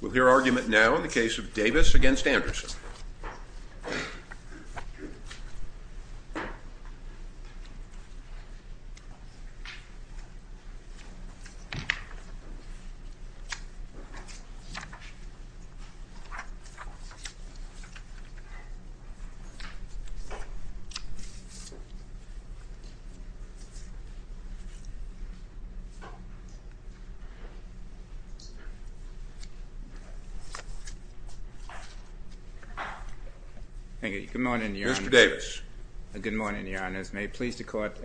We'll hear argument now in the case of Davis v. Anderson. Thank you. Good morning, Your Honor. Mr. Davis. Good morning, Your Honor. As may it please the Court,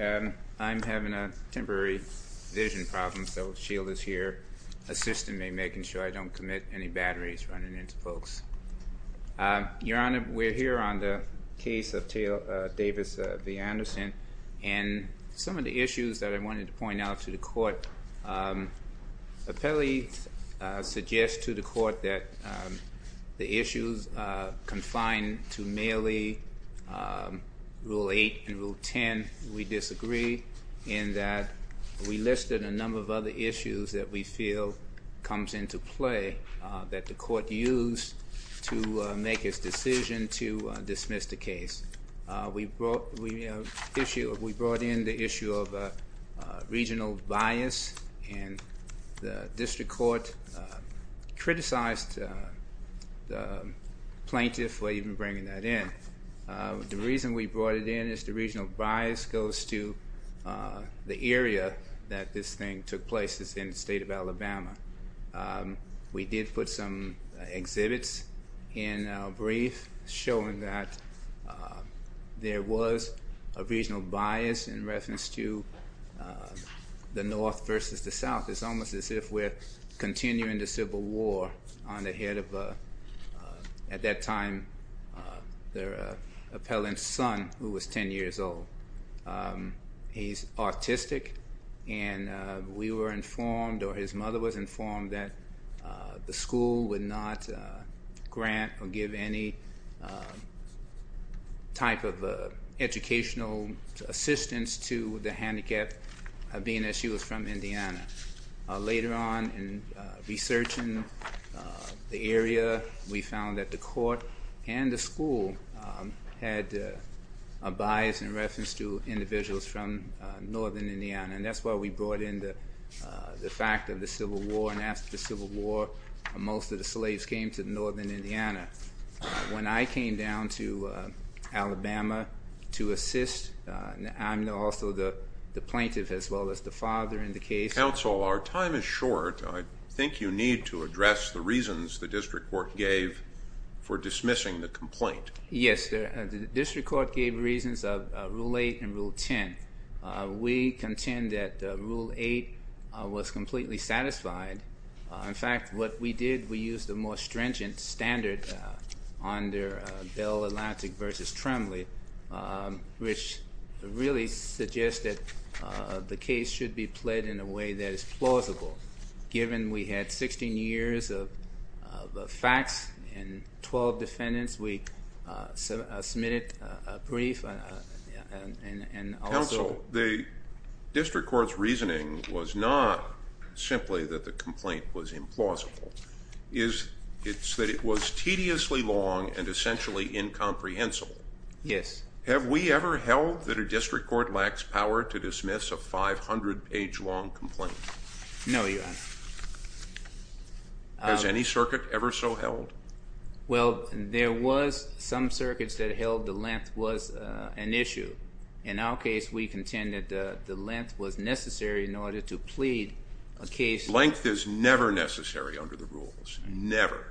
I'm having a temporary vision problem, so shield is here, assisting me, making sure I don't commit any batteries running into folks. Your Honor, we're here on the case of Davis v. Anderson, and some of the issues that I wanted to point out to the Court, apparently suggest to the Court that the issues confined to merely Rule 8 and Rule 10, we disagree, and that we listed a number of other issues that we feel comes into play that the Court used to make its decision to dismiss the case. We brought in the issue of regional bias, and the District Court criticized the plaintiff for even bringing that in. The reason we brought it in is the regional bias goes to the area that this thing took place is in the state of Alabama. We did put some exhibits in our brief showing that there was a regional bias in reference to the North versus the South. It's almost as if we're continuing the Civil War on the head of, at that time, the appellant's son, who was 10 years old. He's autistic, and we were informed, or his mother was informed, that the school would not grant or give any type of educational assistance to the handicapped, being that she was from Indiana. Later on, in researching the area, we found that the Court and the school had a bias in reference to individuals from northern Indiana, and that's why we brought in the fact of the Civil War, and after the Civil War, most of the slaves came to northern Indiana. When I came down to Alabama to assist, I'm also the plaintiff as well as the father in the case. Counsel, our time is short. I think you need to address the reasons the District Court gave for dismissing the complaint. Yes, the District Court gave reasons of Rule 8 and Rule 10. We contend that Rule 8 was completely satisfied. In fact, what we did, we used a more stringent standard under Bell Atlantic v. Trembley, which really suggested the case should be played in a way that is plausible. Given we had 16 years of facts and 12 defendants, we submitted a brief and also... It's that it was tediously long and essentially incomprehensible. Yes. Have we ever held that a District Court lacks power to dismiss a 500-page long complaint? No, Your Honor. Has any circuit ever so held? Well, there was some circuits that held the length was an issue. In our case, we contend that the length was necessary in order to plead a case... Length is never necessary under the rules. Never.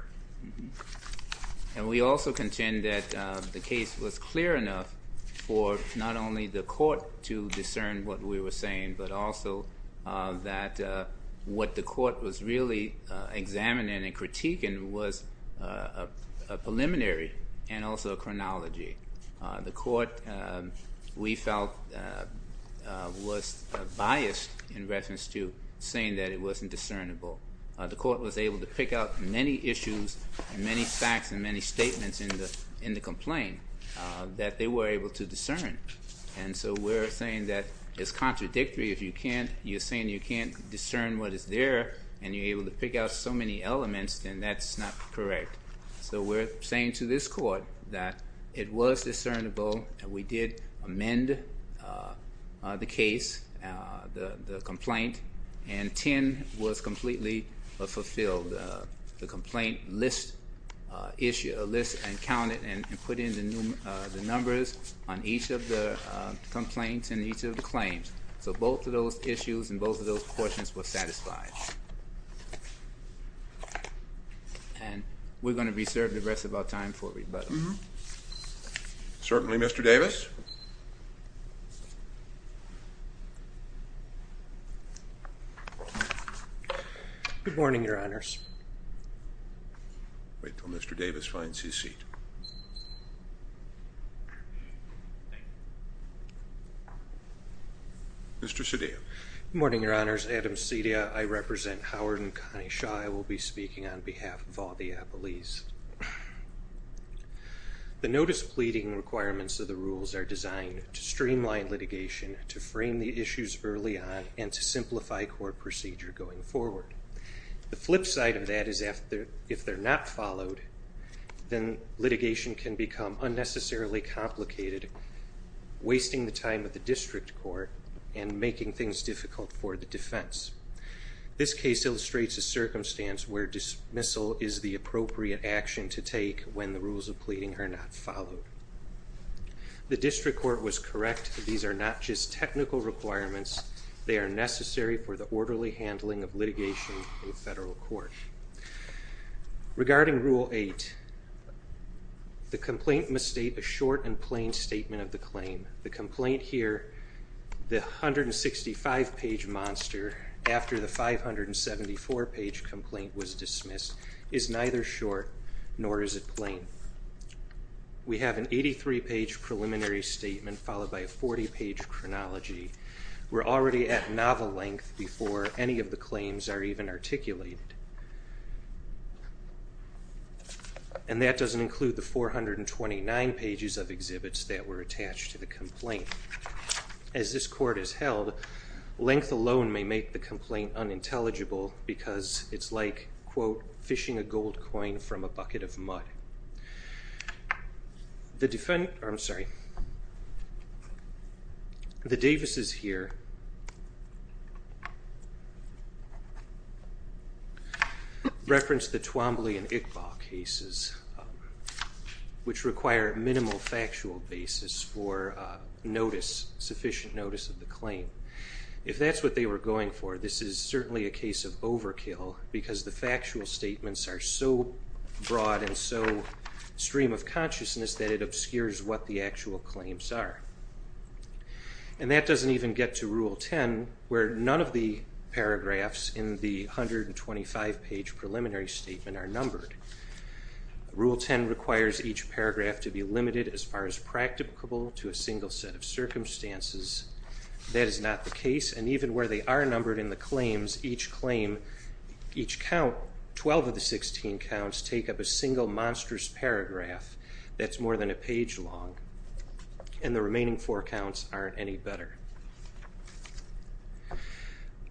And we also contend that the case was clear enough for not only the court to discern what we were saying, but also that what the court was really examining and critiquing was a preliminary and also a chronology. The court, we felt, was biased in reference to saying that it wasn't discernible. The court was able to pick out many issues and many facts and many statements in the complaint that they were able to discern. And so we're saying that it's contradictory. If you're saying you can't discern what is there and you're able to pick out so many elements, then that's not correct. So we're saying to this court that it was discernible and we did amend the case, the complaint, and 10 was completely fulfilled. The complaint lists and counted and put in the numbers on each of the complaints and each of the claims. So both of those issues and both of those portions were satisfied. And we're going to be served the rest of our time for rebuttal. Certainly, Mr. Davis. Good morning, Your Honors. Wait until Mr. Davis finds his seat. Mr. Cedillo. Good morning, Your Honors. Adam Cedillo. I represent Howard and Connie Shaw. I will be speaking on behalf of all the appellees. The notice pleading requirements of the rules are designed to streamline litigation, to frame the issues early on, and to simplify court procedure going forward. The flip side of that is if they're not followed, then litigation can become unnecessarily complicated, wasting the time of the district court and making things difficult for the defense. This case illustrates a circumstance where dismissal is the appropriate action to take when the rules of pleading are not followed. The district court was correct. These are not just technical requirements. They are necessary for the orderly handling of litigation in federal court. Regarding Rule 8, the complaint must state a short and plain statement of the claim. The complaint here, the 165-page monster, after the 574-page complaint was dismissed, is neither short nor is it plain. We have an 83-page preliminary statement followed by a 40-page chronology. We're already at novel length before any of the claims are even articulated. And that doesn't include the 429 pages of exhibits that were attached to the complaint. As this court is held, length alone may make the complaint unintelligible because it's like, quote, fishing a gold coin from a bucket of mud. The Davis's here reference the Twombly and Iqbal cases, which require minimal factual basis for sufficient notice of the claim. If that's what they were going for, this is certainly a case of overkill because the factual statements are so broad and so stream of consciousness that it obscures what the actual claims are. And that doesn't even get to Rule 10, where none of the paragraphs in the 125-page preliminary statement are numbered. Rule 10 requires each paragraph to be limited as far as practicable to a single set of circumstances. That is not the case. And even where they are numbered in the claims, each claim, each count, 12 of the 16 counts, take up a single monstrous paragraph that's more than a page long. And the remaining four counts aren't any better.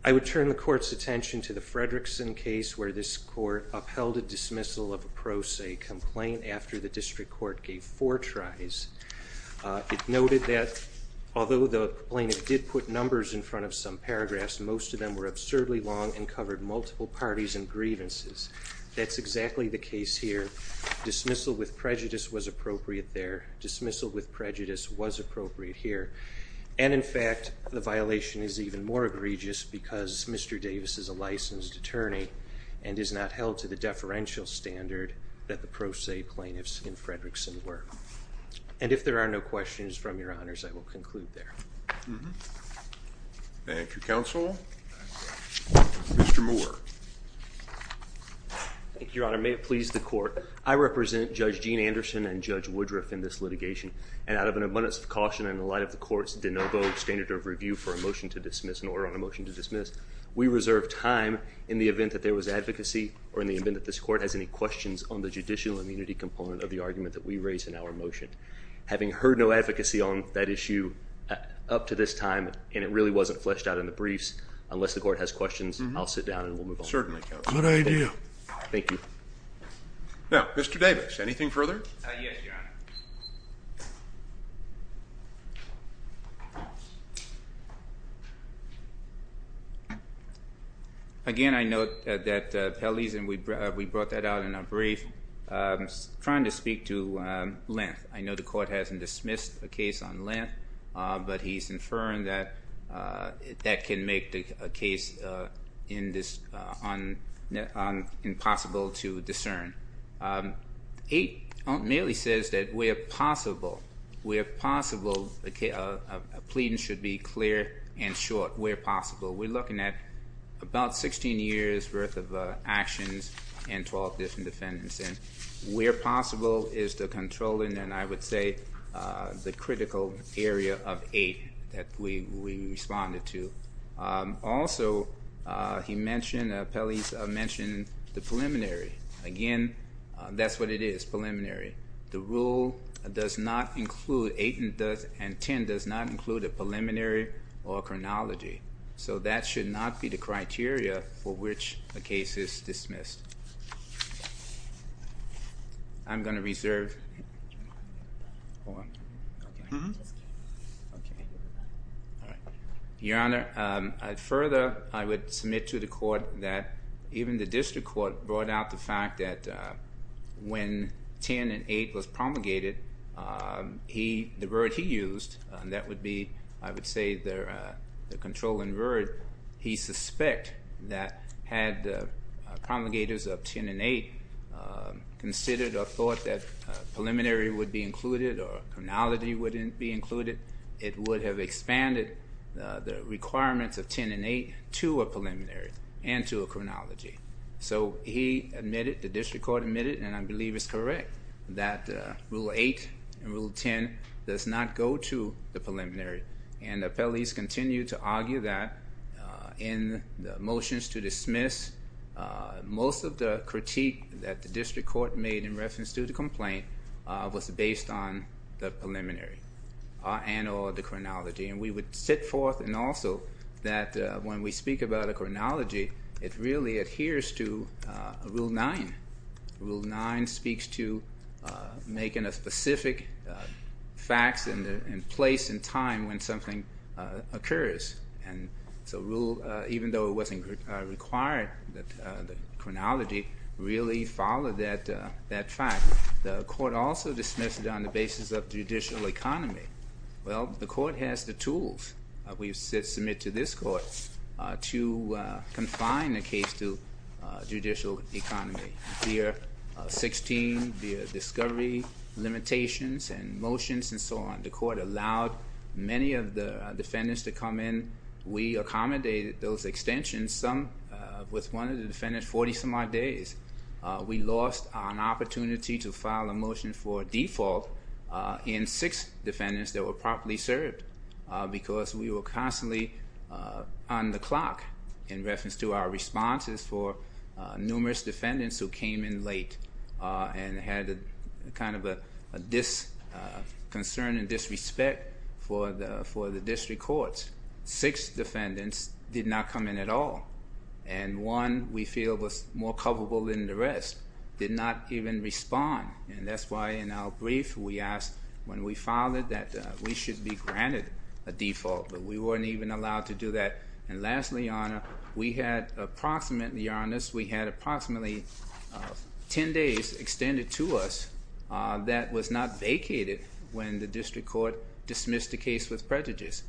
I would turn the court's attention to the Fredrickson case where this court upheld a dismissal of a pro se complaint after the district court gave four tries. It noted that although the plaintiff did put numbers in front of some paragraphs, most of them were absurdly long and covered multiple parties and grievances. That's exactly the case here. Dismissal with prejudice was appropriate there. Dismissal with prejudice was appropriate here. And in fact, the violation is even more egregious because Mr. Davis is a licensed attorney and is not held to the deferential standard that the pro se plaintiffs in Fredrickson were. And if there are no questions from your honors, I will conclude there. Thank you, counsel. Mr. Moore. Thank you, your honor. May it please the court. I represent Judge Gene Anderson and Judge Woodruff in this litigation. And out of an abundance of caution in the light of the court's de novo standard of review for a motion to dismiss in order on a motion to dismiss, we reserve time in the event that there was advocacy or in the event that this court has any questions on the judicial immunity component of the argument that we raise in our motion. Having heard no advocacy on that issue up to this time, and it really wasn't fleshed out in the briefs, unless the court has questions, I'll sit down and we'll move on. Certainly, counsel. Good idea. Thank you. Now, Mr. Davis, anything further? Yes, your honor. Again, I note that Pelley's, and we brought that out in our brief, trying to speak to Lent. I know the court hasn't dismissed a case on Lent, but he's inferring that that can make the case impossible to discern. Eight merely says that where possible, where possible, a plea should be clear and short, where possible. We're looking at about 16 years' worth of actions and 12 different defendants. And where possible is the controlling, and I would say the critical area of eight that we responded to. Also, he mentioned, Pelley mentioned the preliminary. Again, that's what it is, preliminary. The rule does not include, eight and ten does not include a preliminary or a chronology. So that should not be the criteria for which a case is dismissed. I'm going to reserve. Your honor, further, I would submit to the court that even the district court brought out the fact that when ten and eight was promulgated, the word he used, and that would be, I would say, the controlling word, he suspect that had promulgators of ten and eight considered or thought that preliminary would be included or chronology wouldn't be included, it would have expanded the requirements of ten and eight to a preliminary and to a chronology. So he admitted, the district court admitted, and I believe it's correct, that rule eight and rule ten does not go to the preliminary. And Pelley's continued to argue that in the motions to dismiss, most of the critique that the district court made in reference to the complaint was based on the preliminary and or the chronology. And we would sit forth and also that when we speak about a chronology, it really adheres to rule nine. Rule nine speaks to making a specific facts and place and time when something occurs. And so rule, even though it wasn't required that the chronology really followed that fact, the court also dismissed it on the basis of judicial economy. Well, the court has the tools, we submit to this court, to confine a case to judicial economy. Via 16, via discovery, limitations and motions and so on, the court allowed many of the defendants to come in. We accommodated those extensions, some with one of the defendants, 40 some odd days. We lost an opportunity to file a motion for default in six defendants that were properly served, because we were constantly on the clock in reference to our responses for numerous defendants who came in late and had a kind of a disconcern and disrespect for the district courts. Six defendants did not come in at all. And one we feel was more culpable than the rest, did not even respond. And that's why in our brief we asked when we filed it that we should be granted a default, but we weren't even allowed to do that. And lastly, Your Honor, we had approximately, Your Honors, we had approximately ten days extended to us that was not vacated when the district court dismissed the case with prejudice.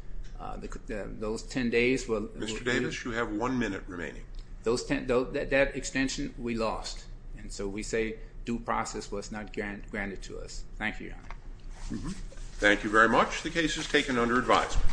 Those ten days were... Mr. Davis, you have one minute remaining. That extension we lost. And so we say due process was not granted to us. Thank you, Your Honor. Thank you very much. The case is taken under advisement.